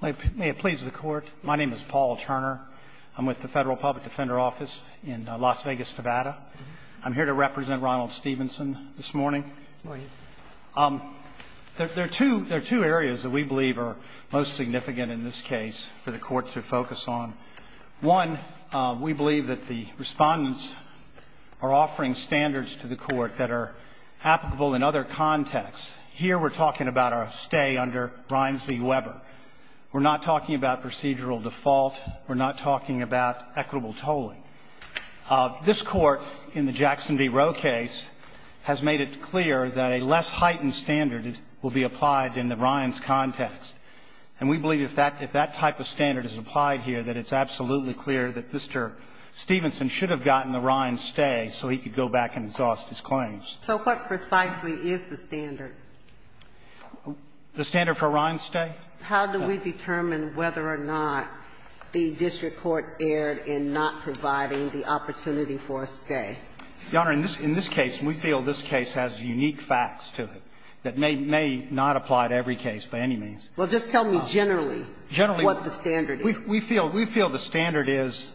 May it please the court. My name is Paul Turner. I'm with the Federal Public Defender Office in Las Vegas, Nevada. I'm here to represent Ronald Stevenson this morning. There are two areas that we believe are most significant in this case for the court to focus on. One, we believe that the respondents are offering standards to the court that are applicable in other contexts. Here we're talking about our stay under Ryans v. Weber. We're not talking about procedural default. We're not talking about equitable tolling. This court in the Jackson v. Roe case has made it clear that a less heightened standard will be applied in the Ryans context. And we believe if that type of standard is applied here, that it's absolutely clear that Mr. Stevenson should have gotten the Ryans stay so he could go back and exhaust his claims. So what precisely is the standard? The standard for Ryans stay? How do we determine whether or not the district court erred in not providing the opportunity for a stay? Your Honor, in this case, we feel this case has unique facts to it that may not apply to every case by any means. Well, just tell me generally what the standard is. Generally, we feel the standard is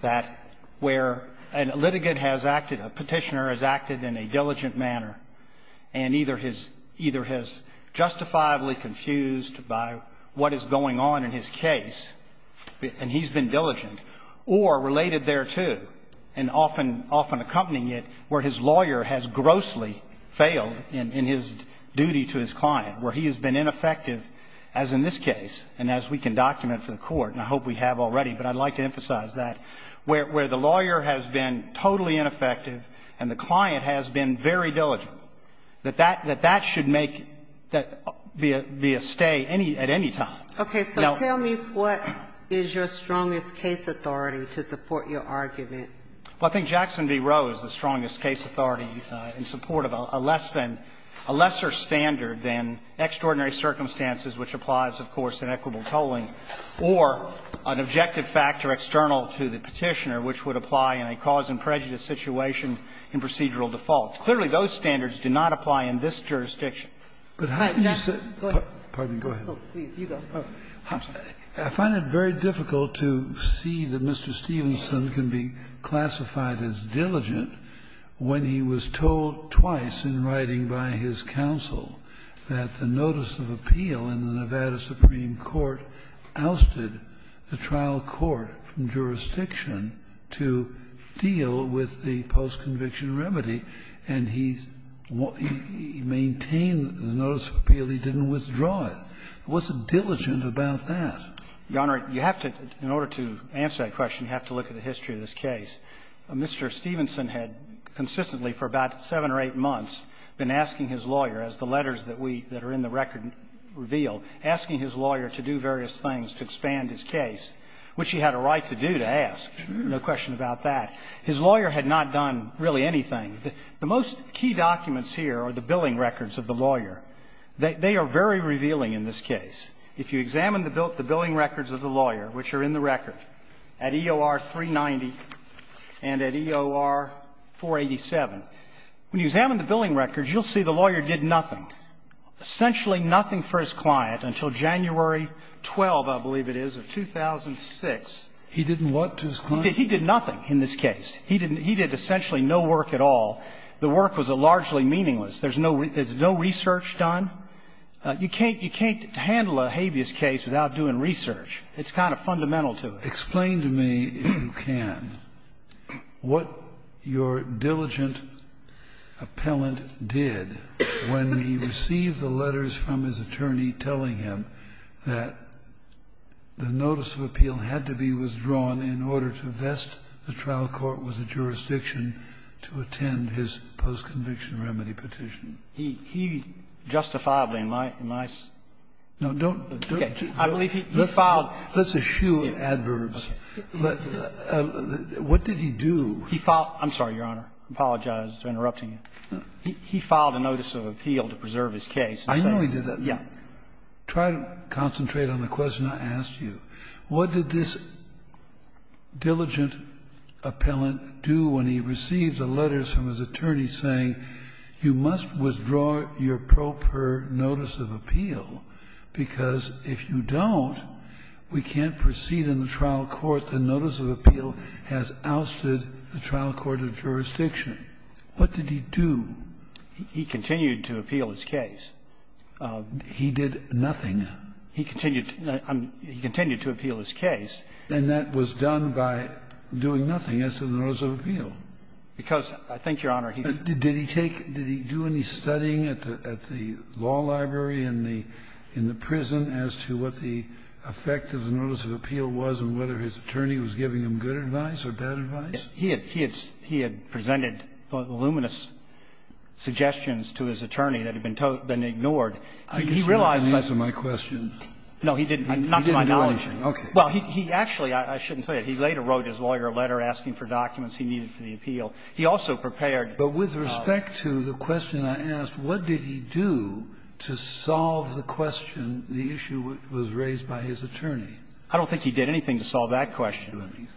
that where a litigant has acted, a Petitioner has acted in a diligent manner and either has justifiably confused by what is going on in his case, and he's been diligent, or related thereto and often accompanying it where his lawyer has grossly failed in his duty to his client, where he has been ineffective, as in this case and as we can document for the Court, and I hope we have already, but I'd like to emphasize that, where the lawyer has been totally ineffective and the client has been very diligent, that that should make, be a stay at any time. Okay. So tell me what is your strongest case authority to support your argument. Well, I think Jackson v. Roe is the strongest case authority in support of a lesser standard than extraordinary circumstances, which applies, of course, in equitable to the Petitioner, which would apply in a cause-and-prejudice situation in procedural default. Clearly, those standards do not apply in this jurisdiction. But how can you say that? Go ahead. I find it very difficult to see that Mr. Stevenson can be classified as diligent when he was told twice in writing by his counsel that the notice of appeal in the Nevada Criminal Court from jurisdiction to deal with the post-conviction remedy, and he maintained the notice of appeal. He didn't withdraw it. He wasn't diligent about that. Your Honor, you have to, in order to answer that question, you have to look at the history of this case. Mr. Stevenson had consistently for about seven or eight months been asking his lawyer, as the letters that we, that are in the record reveal, asking his lawyer to do various things to expand his case, which he had a right to do, to ask. No question about that. His lawyer had not done really anything. The most key documents here are the billing records of the lawyer. They are very revealing in this case. If you examine the billing records of the lawyer, which are in the record, at EOR 390 and at EOR 487, when you examine the billing records, you'll see the lawyer did nothing, essentially nothing for his client until January 12, I believe it is, of 2006. He didn't what to his client? He did nothing in this case. He did essentially no work at all. The work was largely meaningless. There's no research done. You can't handle a habeas case without doing research. It's kind of fundamental to it. Kennedy, explain to me, if you can, what your diligent appellant did when he received the letters from his attorney telling him that the notice of appeal had to be withdrawn in order to vest the trial court with a jurisdiction to attend his post-conviction remedy petition. He justifiably, in my opinion, I believe he filed. Let's eschew adverbs. What did he do? He filed the notice of appeal to preserve his case. I know he did that. Try to concentrate on the question I asked you. What did this diligent appellant do when he received the letters from his attorney saying you must withdraw your proper notice of appeal, because if you don't, we can't proceed in the trial court, the notice of appeal has ousted the trial court of jurisdiction? What did he do? He continued to appeal his case. He did nothing. He continued to appeal his case. He did nothing. Because I think, Your Honor, he didn't do anything. Did he take any studying at the law library in the prison as to what the effect of the notice of appeal was and whether his attorney was giving him good advice or bad advice? He had presented voluminous suggestions to his attorney that had been ignored. I guess he didn't answer my question. No, he didn't. Not to my knowledge. Okay. Well, he actually, I shouldn't say it, he later wrote his lawyer a letter asking for documents he needed for the appeal. He also prepared. But with respect to the question I asked, what did he do to solve the question, the issue that was raised by his attorney? I don't think he did anything to solve that question,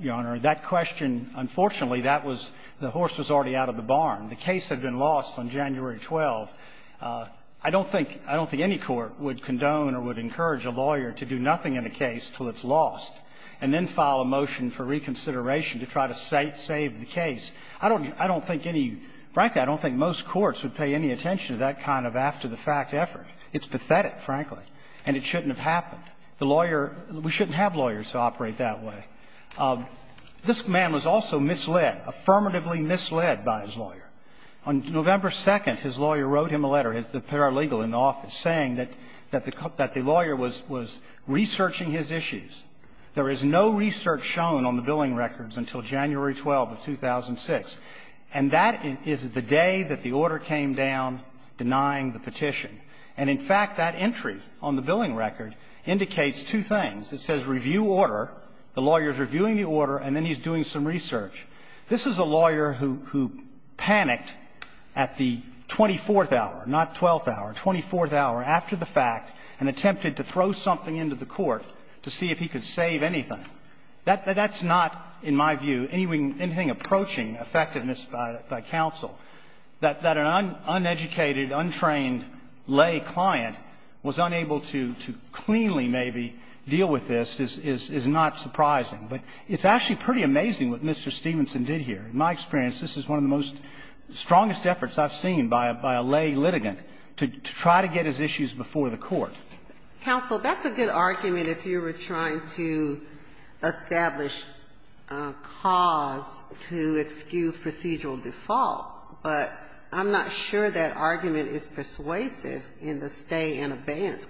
Your Honor. That question, unfortunately, that was the horse was already out of the barn. The case had been lost on January 12th. I don't think any court would condone or would encourage a lawyer to do nothing in a case until it's lost and then file a motion for reconsideration to try to save the case. I don't think any, frankly, I don't think most courts would pay any attention to that kind of after-the-fact effort. It's pathetic, frankly, and it shouldn't have happened. The lawyer, we shouldn't have lawyers who operate that way. This man was also misled, affirmatively misled by his lawyer. On November 2nd, his lawyer wrote him a letter, the paralegal in the office, saying that the lawyer was researching his issues. There is no research shown on the billing records until January 12th of 2006. And that is the day that the order came down denying the petition. And, in fact, that entry on the billing record indicates two things. It says review order. The lawyer is reviewing the order, and then he's doing some research. This is a lawyer who panicked at the 24th hour, not 12th hour, 24th hour, after the fact, and attempted to throw something into the court to see if he could save anything. That's not, in my view, anything approaching effectiveness by counsel. That an uneducated, untrained lay client was unable to cleanly, maybe, deal with this is not surprising. But it's actually pretty amazing what Mr. Stevenson did here. In my experience, this is one of the most strongest efforts I've seen by a lay litigant to try to get his issues before the court. Counsel, that's a good argument if you were trying to establish a cause to excuse procedural default, but I'm not sure that argument is persuasive in the stay-in-abeyance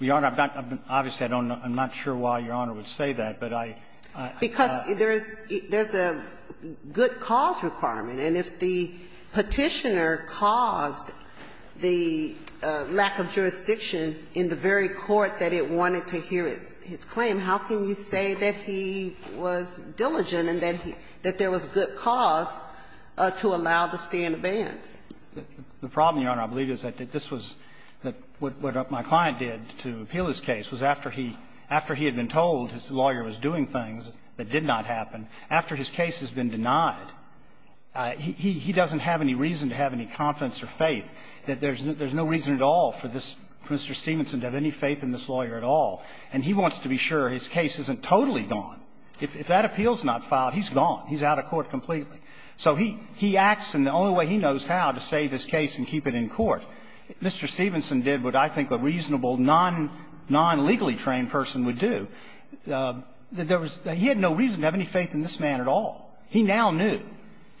Your Honor, I'm not going to be obvious. I'm not sure why Your Honor would say that, but I thought that's a good argument. And if the Petitioner caused the lack of jurisdiction in the very court that it wanted to hear his claim, how can you say that he was diligent and that there was a good cause to allow the stay-in-abeyance? The problem, Your Honor, I believe, is that this was what my client did to appeal his case, was after he had been told his lawyer was doing things that did not happen, after his case has been denied, he doesn't have any reason to have any confidence or faith that there's no reason at all for this Mr. Stevenson to have any faith in this lawyer at all, and he wants to be sure his case isn't totally gone. If that appeal is not filed, he's gone. He's out of court completely. So he acts in the only way he knows how to save his case and keep it in court. Mr. Stevenson did what I think a reasonable, non-legally trained person would do. He had no reason to have any faith in this man at all. He now knew.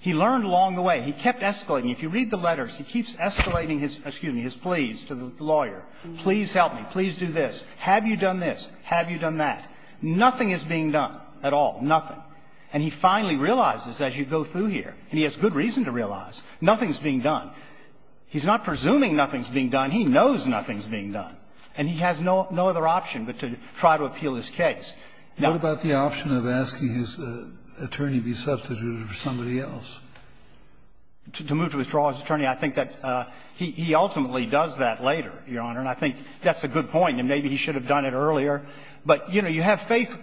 He learned along the way. He kept escalating. If you read the letters, he keeps escalating his, excuse me, his pleas to the lawyer. Please help me. Please do this. Have you done this? Have you done that? Nothing is being done at all. Nothing. And he finally realizes as you go through here, and he has good reason to realize, nothing's being done. He's not presuming nothing's being done. He knows nothing's being done. And he has no other option but to try to appeal his case. Now ---- What about the option of asking his attorney to be substituted for somebody else? To move to withdraw his attorney, I think that he ultimately does that later, Your Honor, and I think that's a good point. I mean, maybe he should have done it earlier. But, you know, you have faith.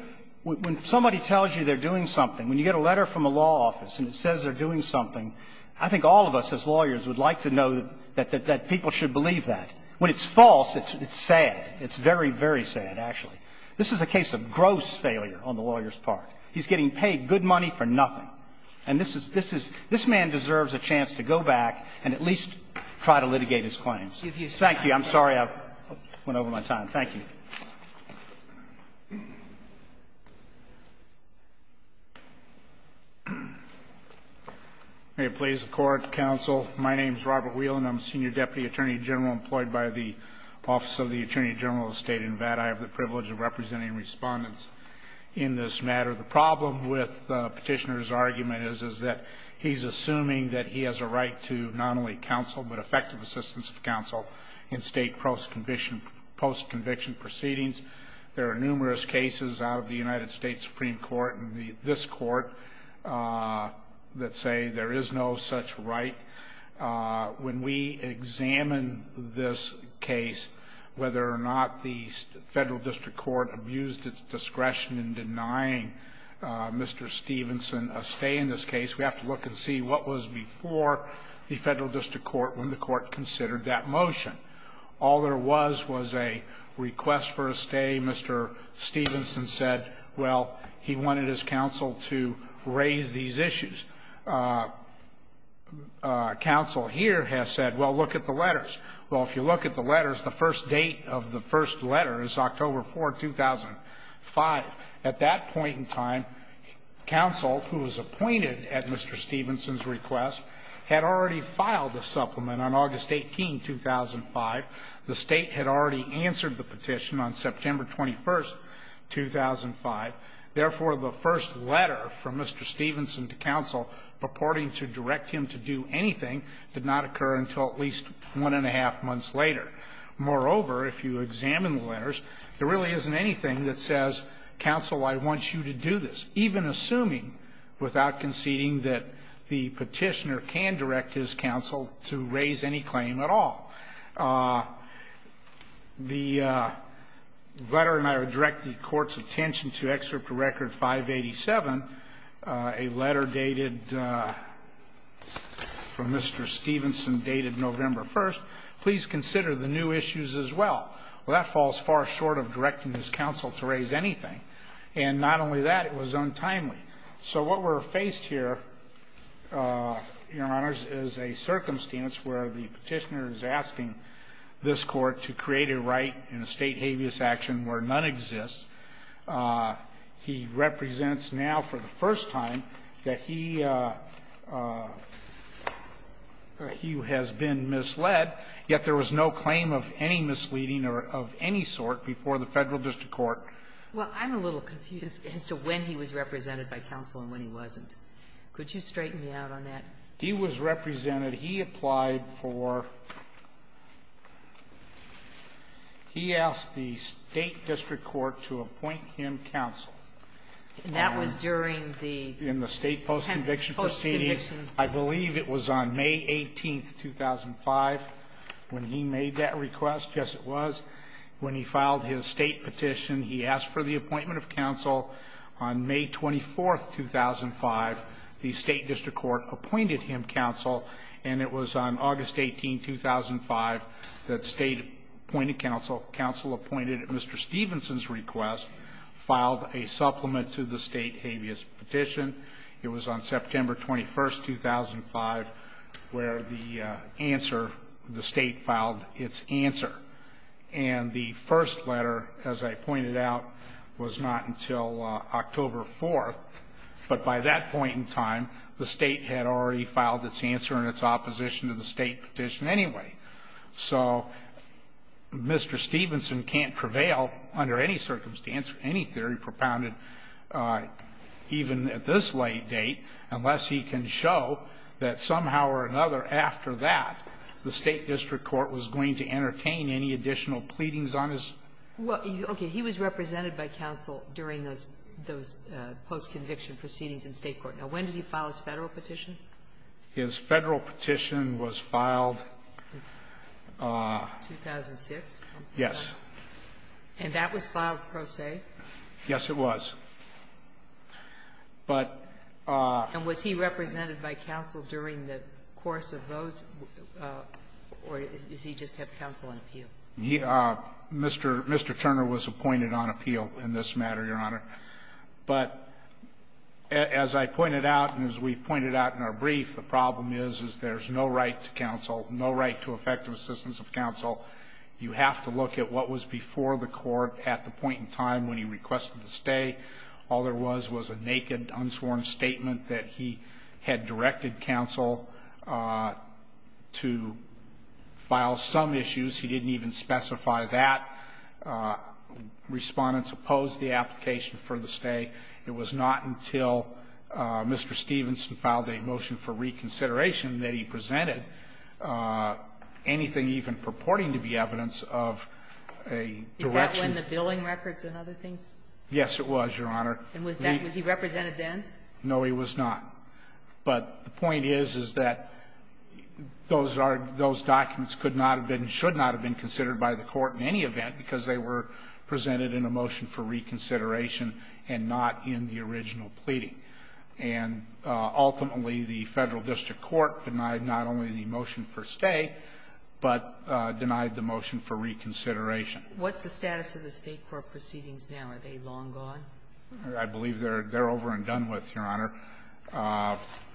When somebody tells you they're doing something, when you get a letter from a law office and it says they're doing something, I think all of us as lawyers would like to know that people should believe that. When it's false, it's sad. It's very, very sad, actually. This is a case of gross failure on the lawyer's part. He's getting paid good money for nothing. And this is ---- this man deserves a chance to go back and at least try to litigate his claims. Thank you. I'm sorry I went over my time. Thank you. May it please the Court, Counsel. My name is Robert Whelan. I'm Senior Deputy Attorney General employed by the Office of the Attorney General of the State of Nevada. I have the privilege of representing respondents in this matter. The problem with Petitioner's argument is that he's assuming that he has a right to not only counsel but effective assistance of counsel in state post-conviction proceedings. There are numerous cases out of the United States Supreme Court and this court that say there is no such right. When we examine this case, whether or not the Federal District Court abused its discretion in denying Mr. Stevenson a stay in this case, we have to look and see what was before the Federal District Court when the court considered that motion. All there was was a request for a stay. Mr. Stevenson said, well, he wanted his counsel to raise these issues. Counsel here has said, well, look at the letters. Well, if you look at the letters, the first date of the first letter is October 4, 2005. At that point in time, counsel, who was appointed at Mr. Stevenson's request, had already filed a supplement on August 18, 2005. The State had already answered the petition on September 21, 2005. Therefore, the first letter from Mr. Stevenson to counsel purporting to direct him to do anything did not occur until at least one-and-a-half months later. Moreover, if you examine the letters, there really isn't anything that says, counsel, I want you to do this, even assuming without conceding that the Petitioner can direct his counsel to raise any claim at all. The letter, and I would direct the Court's attention to Excerpt Record 587, a letter dated from Mr. Stevenson dated November 1st, please consider the new issues as well. Well, that falls far short of directing his counsel to raise anything. And not only that, it was untimely. So what we're faced here, Your Honors, is a circumstance where the Petitioner is asking this Court to create a right in a State habeas action where none exists. He represents now for the first time that he has been misled, yet there was no claim of any misleading or of any sort before the Federal district court. Well, I'm a little confused as to when he was represented by counsel and when he wasn't. Could you straighten me out on that? He was represented. He applied for he asked the State district court to appoint him counsel. And that was during the post-conviction. I believe it was on May 18th, 2005, when he made that request. Yes, it was. When he filed his State petition, he asked for the appointment of counsel. On May 24th, 2005, the State district court appointed him counsel. And it was on August 18th, 2005, that State appointed counsel, counsel appointed at Mr. Stevenson's request, filed a supplement to the State habeas petition. It was on September 21st, 2005, where the answer, the State filed its answer. And the first letter, as I pointed out, was not until October 4th. But by that point in time, the State had already filed its answer in its opposition to the State petition anyway. So Mr. Stevenson can't prevail under any circumstance, any theory propounded even at this late date, unless he can show that somehow or another after that, the State district court was going to entertain any additional pleadings on his. Well, okay. He was represented by counsel during those post-conviction proceedings in State court. Now, when did he file his Federal petition? His Federal petition was filed. 2006? Yes. And that was filed pro se? Yes, it was. And was he represented by counsel during the course of those? Or does he just have counsel on appeal? Mr. Turner was appointed on appeal in this matter, Your Honor. But as I pointed out and as we pointed out in our brief, the problem is, is there's no right to counsel, no right to effective assistance of counsel. You have to look at what was before the court at the point in time when he requested to stay. All there was was a naked, unsworn statement that he had directed counsel to file some issues. He didn't even specify that. Respondents opposed the application for the stay. It was not until Mr. Stevenson filed a motion for reconsideration that he presented anything even purporting to be evidence of a direction. Is that when the billing records and other things? Yes, it was, Your Honor. And was he represented then? No, he was not. But the point is, is that those documents could not have been, should not have been not in the original pleading. And ultimately, the Federal District Court denied not only the motion for stay, but denied the motion for reconsideration. What's the status of the State court proceedings now? Are they long gone? I believe they're over and done with, Your Honor.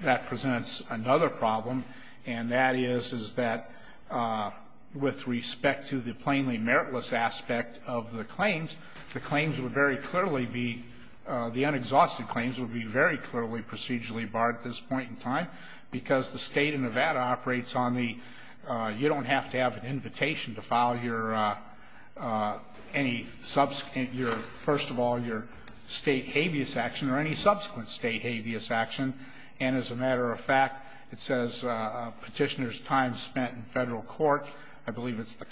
That presents another problem, and that is, is that with respect to the plainly the unexhausted claims would be very clearly procedurally barred at this point in time because the State of Nevada operates on the, you don't have to have an invitation to file your, any subsequent, your, first of all, your State habeas action or any subsequent State habeas action. And as a matter of fact, it says petitioner's time spent in Federal court, I believe it's the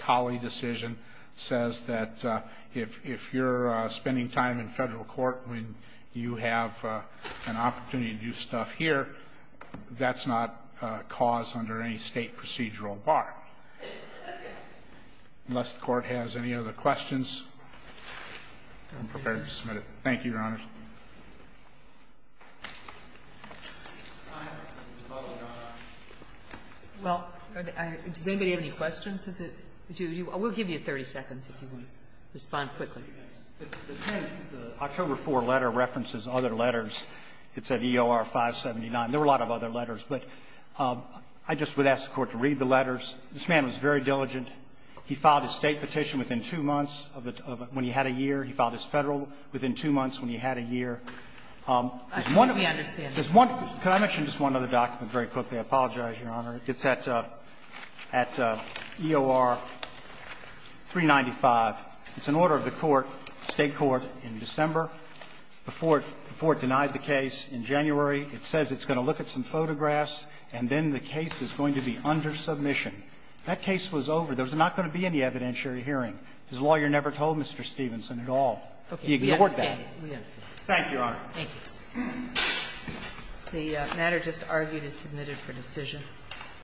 you have an opportunity to do stuff here, that's not cause under any State procedural bar. Unless the Court has any other questions, I'm prepared to submit it. Thank you, Your Honor. Well, does anybody have any questions? We'll give you 30 seconds if you want to respond quickly. The 10th, the October 4 letter references other letters. It's at EOR 579. There were a lot of other letters, but I just would ask the Court to read the letters. This man was very diligent. He filed his State petition within two months of when he had a year. He filed his Federal within two months when he had a year. There's one of them. Could I mention just one other document very quickly? I apologize, Your Honor. It's at EOR 395. It's an order of the Court, State court, in December. Before it denied the case in January, it says it's going to look at some photographs and then the case is going to be under submission. That case was over. There was not going to be any evidentiary hearing. His lawyer never told Mr. Stevenson at all. He ignored that. Thank you, Your Honor. Thank you. The matter just argued is submitted for decision.